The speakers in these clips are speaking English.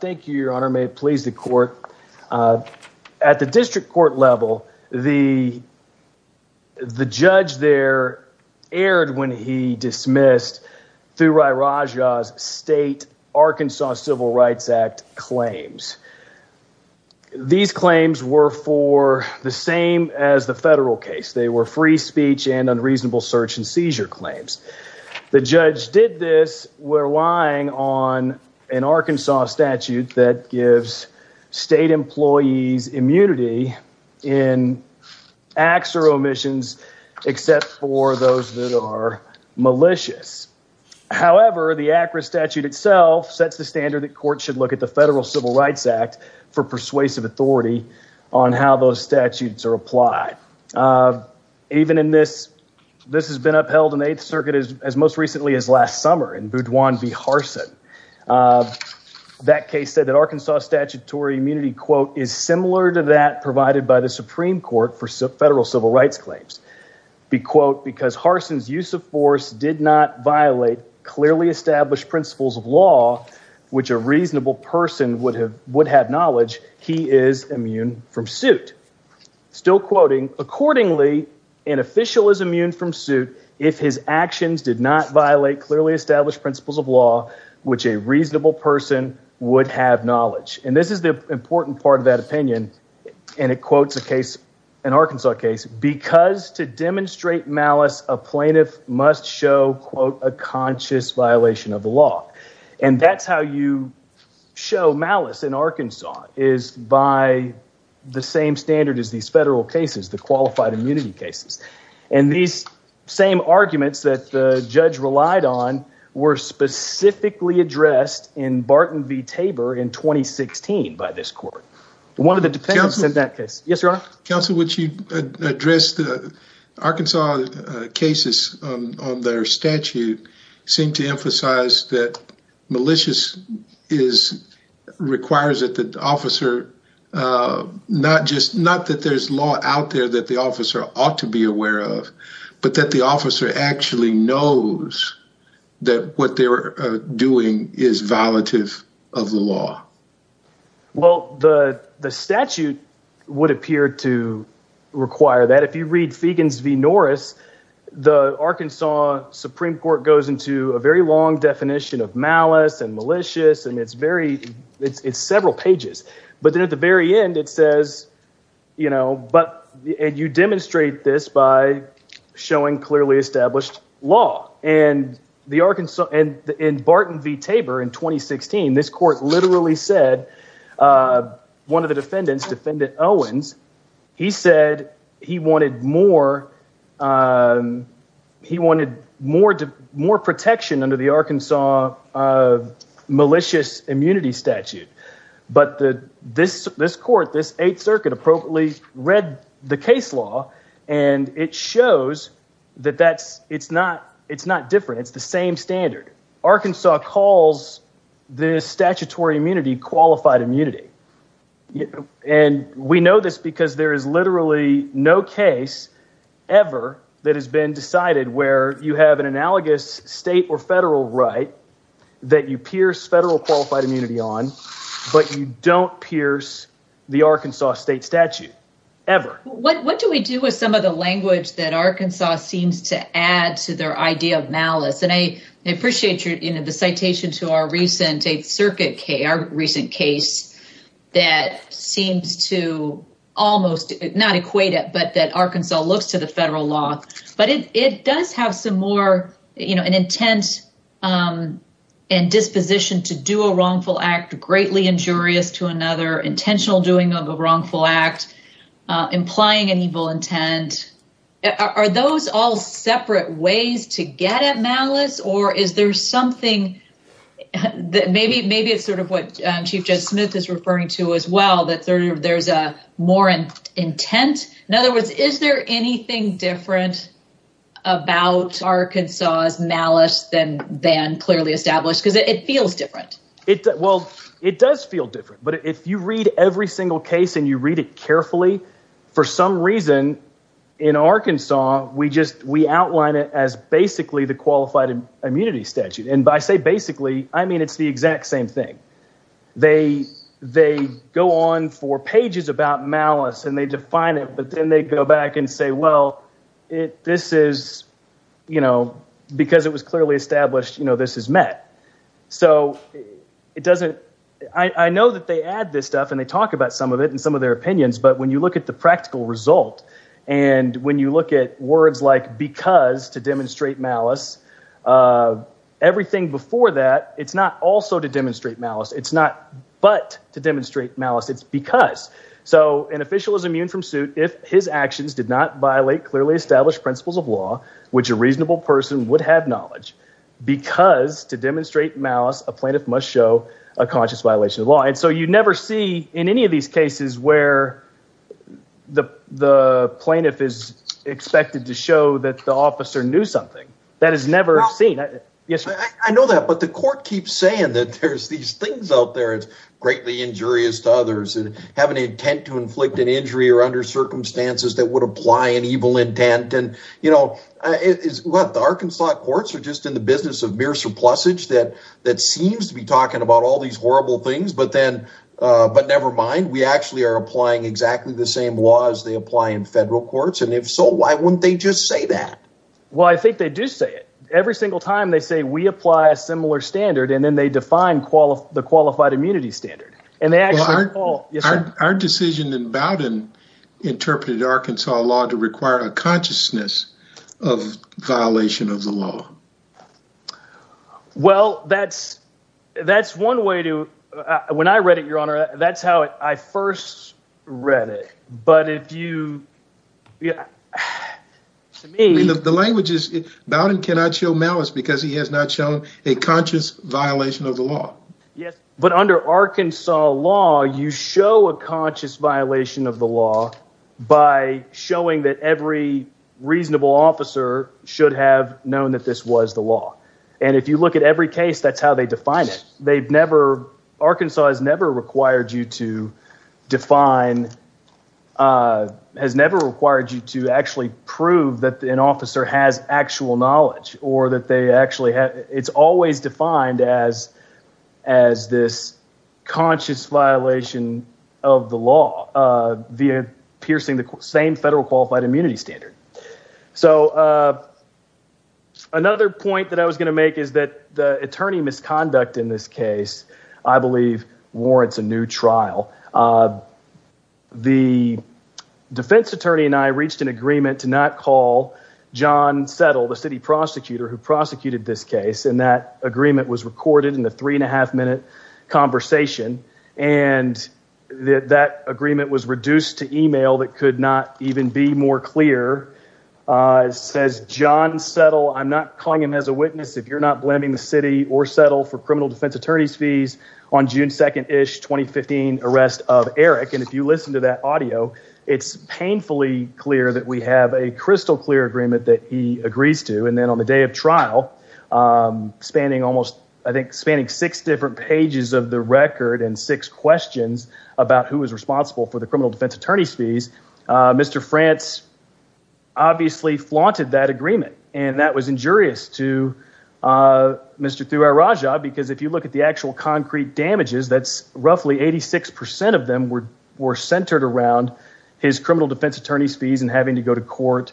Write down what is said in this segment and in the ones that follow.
Thank you, your honor. May it please the court. At the district court level, the judge there erred when he dismissed Thurairajah's state Arkansas Civil Rights Act claims. These claims were for the same as the federal case. They were free speech and unreasonable search and seizure claims. The judge did this, relying on an Arkansas statute that gives state employees immunity in acts or omissions except for those that are malicious. However, the ACRA statute itself sets the standard that courts should look at the Federal Civil Rights Act for persuasive authority on how those statutes are applied. Even in this, this has been upheld in the 8th Circuit as most recently as last summer in Boudoin v. Harsin. That case said that Arkansas statutory immunity, quote, is similar to that provided by the Supreme Court for federal civil rights claims. Be quote, because Harsin's use of force did not violate clearly established principles of law which a reasonable person would have knowledge, he is immune from suit. Still quoting, accordingly, an official is immune from suit if his actions did not violate clearly established principles of law which a reasonable person would have knowledge. And this is the important part of that opinion, and it quotes a case, an Arkansas case, because to demonstrate malice, a plaintiff must show, quote, a conscious violation of the law. And that's how you show malice in Arkansas, is by the same standard as these federal cases, the qualified immunity cases. And these same arguments that the judge relied on were specifically addressed in Barton v. Tabor in 2016 by this court. One of the defendants in that case. Yes, Your Honor? Counsel, would you address the Arkansas cases on their statute seem to emphasize that malicious is, requires that the officer, not just, not that there's law out there that the officer ought to be aware of, but that the statute would appear to require that. If you read Feigens v. Norris, the Arkansas Supreme Court goes into a very long definition of malice and malicious, and it's very, it's several pages. But then at the very end, it says, you know, but, and you demonstrate this by showing clearly established law. And the Arkansas, and in Barton v. Tabor in 2016, this court literally said, one of the defendants, Defendant Owens, he said he wanted more, he wanted more protection under the Arkansas malicious immunity statute. But this court, this Eighth Circuit appropriately read the case law, and it shows that that's, it's not different, it's the same standard. Arkansas calls this statutory immunity qualified immunity. And we know this because there is literally no case ever that has been decided where you have an analogous state or federal right that you pierce federal qualified immunity on, but you don't pierce the Arkansas state statute, ever. What do we do with some of the language that Arkansas seems to add to their idea of malice? And I appreciate your, you know, the citation to our recent Eighth Circuit case, our recent case, that seems to almost, not equate it, but that Arkansas looks to the federal law. But it does have some more, you know, an intent and disposition to do a wrongful act, greatly injurious to another, intentional doing of a wrongful act, implying an evil intent. Are those all separate ways to get at malice? Or is there something that maybe it's sort of what Chief Judge Smith is referring to as well, that there's a more intent? In other words, is there anything different about Arkansas's malice than clearly established? Because it feels different. Well, it does feel different. But if you read every single case and you read it carefully, for some reason in Arkansas, we outline it as basically the qualified immunity statute. And by say basically, I mean it's the exact same thing. They go on for pages about malice and they define it, but then they go back and say, well, this is, you know, because it was clearly established, you know, this is met. So it doesn't, I know that they add this stuff and they talk about some of their opinions. But when you look at the practical result, and when you look at words like because to demonstrate malice, everything before that, it's not also to demonstrate malice. It's not but to demonstrate malice, it's because. So an official is immune from suit if his actions did not violate clearly established principles of law, which a reasonable person would have knowledge. Because to demonstrate malice, a plaintiff must show a conscious violation of law. And so you where the plaintiff is expected to show that the officer knew something that is never seen. I know that, but the court keeps saying that there's these things out there. It's greatly injurious to others and have an intent to inflict an injury or under circumstances that would apply an evil intent. And, you know, it is what the Arkansas courts are just in the business of mere surplusage that that seems to be talking about all these horrible things. But then, but never mind, we actually are applying exactly the same laws they apply in federal courts. And if so, why wouldn't they just say that? Well, I think they do say it. Every single time they say we apply a similar standard, and then they define the qualified immunity standard. And they actually are. Our decision in Bowdoin interpreted Arkansas law to require a consciousness of violation of the law. Well, that's that's one way to when I read it, Your Honor. That's how I first read it. But if you. The language is Bowdoin cannot show malice because he has not shown a conscious violation of the law. Yes. But under Arkansas law, you show a conscious violation of the law by showing that every reasonable officer should have known that this was the law. And if you look at every case, that's how they define it. They've never Arkansas has never required you to define has never required you to actually prove that an officer has actual knowledge or that they actually have. It's always defined as as this conscious violation of the law, via piercing the same federal qualified immunity standard. So another point that I was going to make is that the attorney misconduct in this case, I believe warrants a new trial. The defense attorney and I reached an agreement to not call John Settle, the city prosecutor who prosecuted this case. And that agreement was recorded in the three and a half minute conversation. And that agreement was reduced to email that could not even be more clear, says John Settle. I'm not calling him as a witness. If you're not blaming the city or settle for criminal defense attorney's fees on June 2nd ish 2015 arrest of Eric. And if you listen to that audio, it's painfully clear that we have a crystal clear agreement that he agrees to. And then on the trial, spanning almost, I think, spanning six different pages of the record and six questions about who was responsible for the criminal defense attorney's fees. Mr. France obviously flaunted that agreement. And that was injurious to Mr. Thurajah because if you look at the actual concrete damages, that's roughly 86% of them were centered around his criminal defense attorney's court,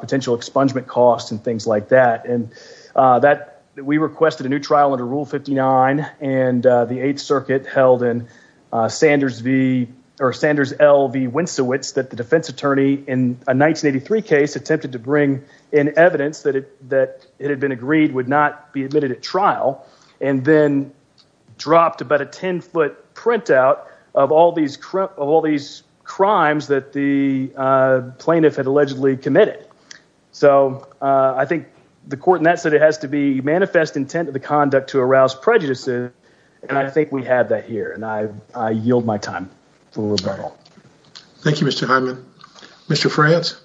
potential expungement costs and things like that. And that we requested a new trial under rule 59 and the eighth circuit held in Sanders V or Sanders L V Winsowitz that the defense attorney in a 1983 case attempted to bring in evidence that it had been agreed would not be admitted at trial. And then dropped about a 10 foot printout of all these crimes that the plaintiff had allegedly committed. So, uh, I think the court in that city has to be manifest intent of the conduct to arouse prejudices. And I think we have that here and I, I yield my time. Thank you, Mr. Hyman, Mr. France.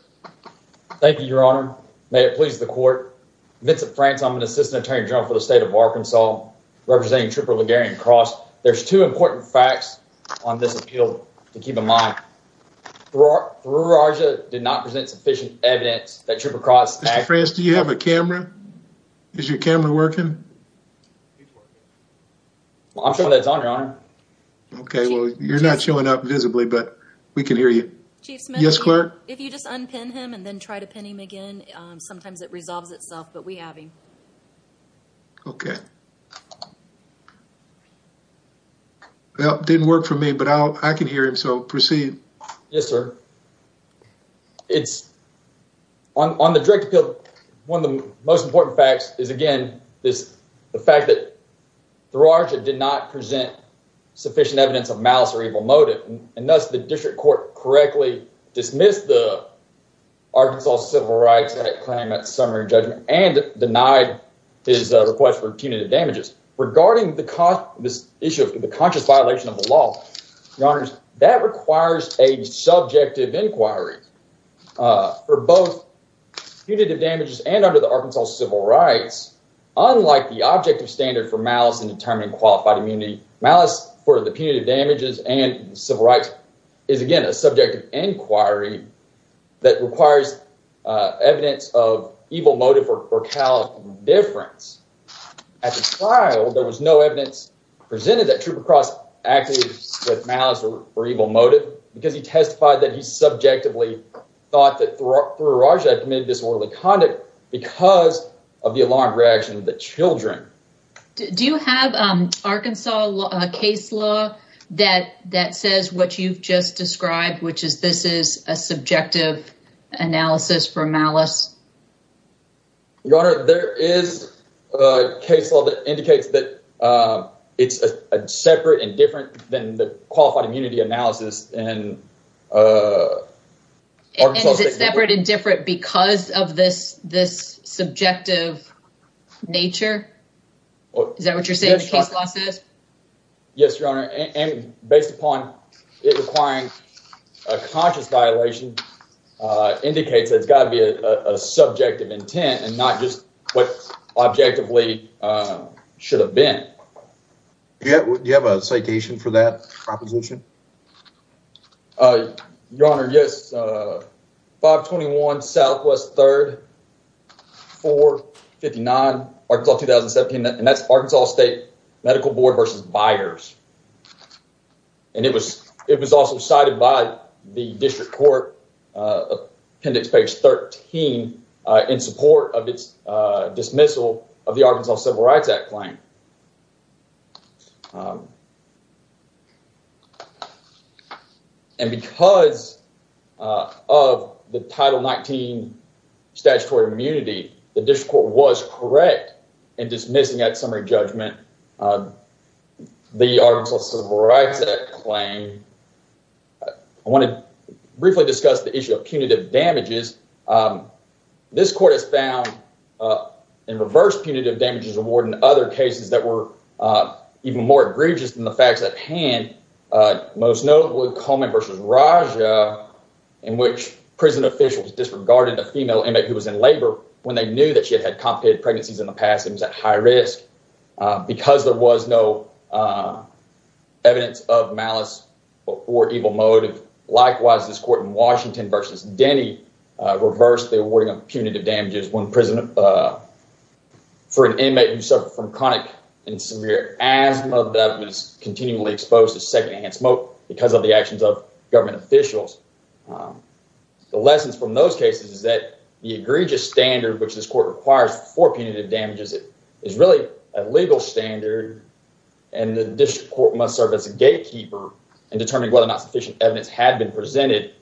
Thank you, your honor. May it please the court. Vincent France. I'm an assistant attorney general for the state of Arkansas representing triple Ligurian cross. There's two important facts on this appeal to keep in mind. Through Raja did not present sufficient evidence that trip across. Mr. France, do you have a camera? Is your camera working? I'm sure that's on your honor. Okay, well, you're not showing up visibly, but we can hear you. Chief Smith. Yes, clerk. If you just unpin him and then try to pin him again, sometimes it resolves itself, but we have him. Okay. Well, it didn't work for me, but I can hear him. So proceed. Yes, sir. It's on the direct appeal. One of the most important facts is, again, this, the fact that through Raja did not present sufficient evidence of malice or evil motive. And thus the district court correctly dismissed the Arkansas civil rights claim at summary judgment and denied his request for punitive damage. Regarding the cost of this issue of the conscious violation of the law, your honors, that requires a subjective inquiry for both punitive damages and under the Arkansas civil rights. Unlike the objective standard for malice and determined qualified immunity, malice for the punitive damages and civil rights is again, a subjective inquiry that requires evidence of evil motive or callous indifference. At the trial, there was no evidence presented that Trooper Cross acted with malice or evil motive because he testified that he subjectively thought that through Raja had committed disorderly conduct because of the alarmed reaction of the children. Do you have Arkansas case law that says what you've just described, which is this is a subjective analysis for malice? Your honor, there is a case law that indicates that it's a separate and different than the qualified immunity analysis. And is it separate and different because of this subjective nature? Is that what you're saying the case law says? Yes, your honor. And based upon it requiring a conscious violation, indicates it's got to be a subjective intent and not just what objectively should have been. Do you have a citation for that proposition? Your honor, yes. 521 Southwest 3rd, 459, Arkansas 2017. And that's Arkansas State Medical Board versus Byers. And it was also cited by the district court, appendix page 13, in support of its dismissal of the Arkansas Civil Rights Act claim. And because of the Title 19 statutory immunity, the district court was correct in dismissing that judgment. The Arkansas Civil Rights Act claim. I want to briefly discuss the issue of punitive damages. This court has found in reverse punitive damages award in other cases that were even more egregious than the facts at hand. Most notably, Coleman versus Rajah, in which prison officials disregarded a female inmate who was in labor when they knew that she was in labor. Because there was no evidence of malice or evil motive. Likewise, this court in Washington versus Denny reversed the awarding of punitive damages for an inmate who suffered from chronic and severe asthma that was continually exposed to secondhand smoke because of the actions of government officials. The lessons from those cases is that the egregious standard which this legal standard and the district court must serve as a gatekeeper in determining whether or not sufficient evidence had been presented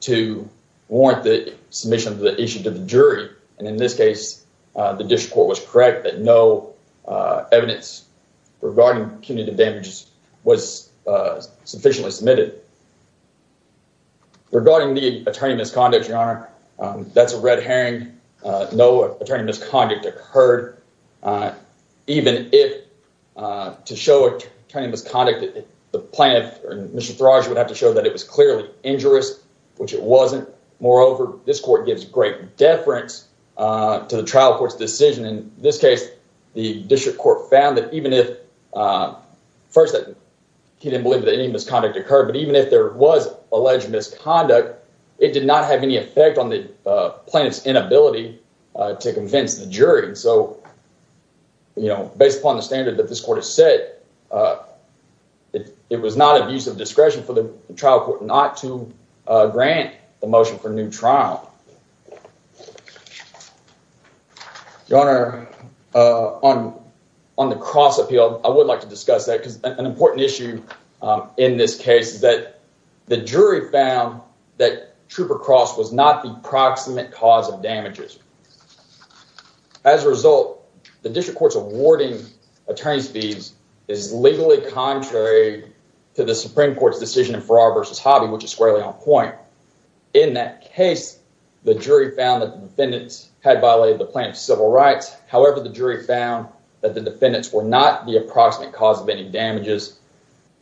to warrant the submission of the issue to the jury. And in this case, the district court was correct that no evidence regarding punitive damages was sufficiently submitted. Regarding the attorney misconduct, your honor, that's a red herring. No attorney misconduct occurred. Even if to show attorney misconduct, the plaintiff or Mr. Rajah would have to show that it was clearly injurious, which it wasn't. Moreover, this court gives great deference to the trial court's decision. In this case, the district court found that even if, first, he didn't believe that any misconduct occurred, but even if there was alleged misconduct, it did not have any effect on the plaintiff's inability to convince the jury. So, you know, based upon the standard that this court has set, it was not of use of discretion for the trial court not to grant the motion for new trial. Your honor, on the cross appeal, I would like to discuss that because an important issue in this case is that the jury found that Trooper Cross was not the approximate cause of damages. As a result, the district court's awarding attorney's fees is legally contrary to the Supreme Court's decision in Farrar v. Hobby, which is squarely on point. In that case, the jury found that the defendants had violated the plaintiff's civil rights. However, the jury found that the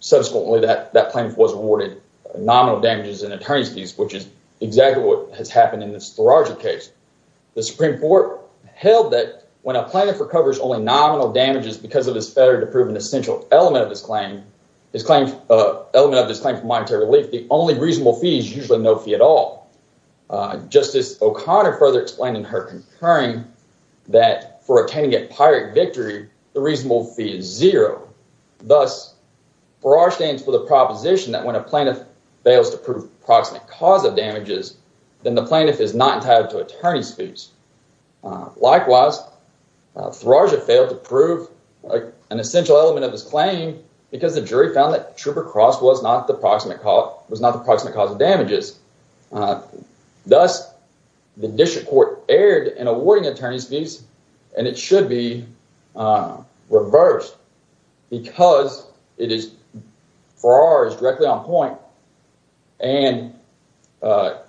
subsequently that that plaintiff was awarded nominal damages and attorney's fees, which is exactly what has happened in this Tharaja case. The Supreme Court held that when a plaintiff recovers only nominal damages because of his failure to prove an essential element of this claim, his claim, element of this claim for monetary relief, the only reasonable fee is usually no fee at all. Justice O'Connor further explained in her concurring that for attaining a victory, the reasonable fee is zero. Thus, Farrar stands for the proposition that when a plaintiff fails to prove the approximate cause of damages, then the plaintiff is not entitled to attorney's fees. Likewise, Tharaja failed to prove an essential element of his claim because the jury found that Trooper Cross was not the approximate cause of damages. Thus, the district court erred in awarding attorney's fees and it should be reversed because it is, Farrar is directly on point and the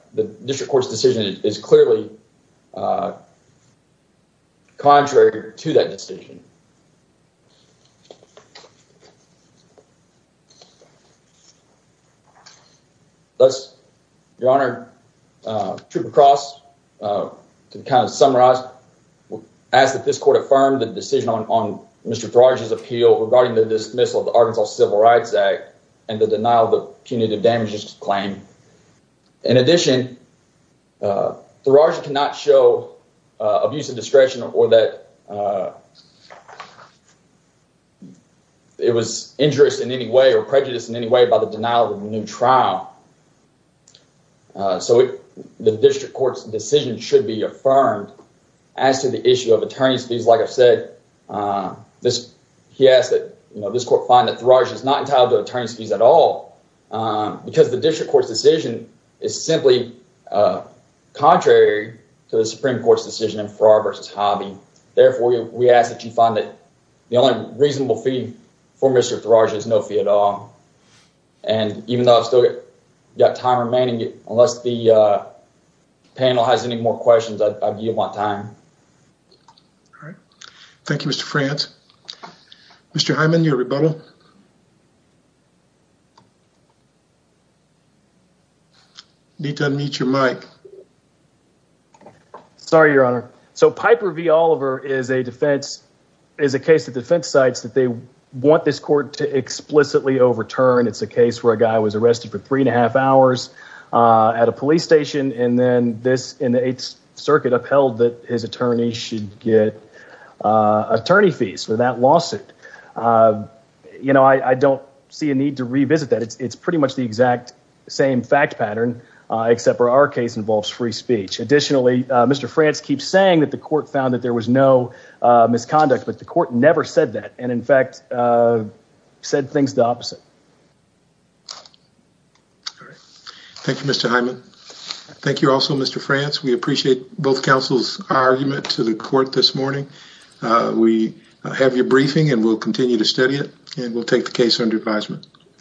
district court's decision is clearly contrary to that decision. Thus, Your Honor, Trooper Cross, to kind of summarize, asks that this court affirm the decision on Mr. Tharaja's appeal regarding the dismissal of the Arkansas Civil Rights Act and the denial of the punitive damages claim. In addition, Tharaja cannot show abuse of discretion or that it was injurious in any way or prejudiced in any way by the denial of the new trial. So, the district court's decision should be affirmed as to the issue of attorney's fees. Like I've said, he asked that this court find that Tharaja is not entitled to attorney's fees at all because the district court's decision is simply contrary to the Supreme Court's decision in Farrar v. Hobby. Therefore, we ask that you find that the only reasonable fee for Mr. Tharaja is no fee at all. And even though I've still got time remaining, unless the panel has any more questions, I yield my time. All right. Thank you, Mr. France. Mr. Hyman, your rebuttal. I need to unmute your mic. Sorry, Your Honor. So, Piper v. Oliver is a defense, is a case of defense sites that they want this court to explicitly overturn. It's a case where a guy was arrested for three and a half hours at a police station and then this in the Eighth Circuit upheld that his attorney should get attorney fees for that lawsuit. You know, I don't see a need to revisit that. It's pretty much the exact same fact pattern except for our case involves free speech. Additionally, Mr. France keeps saying that the court found that there was no misconduct, but the court never said that and in fact said things the opposite. All right. Thank you, Mr. Hyman. Thank you also, Mr. France. We appreciate both counsel's argument to the court this morning. We have your briefing and we'll continue to study it and we'll take the case under advisement.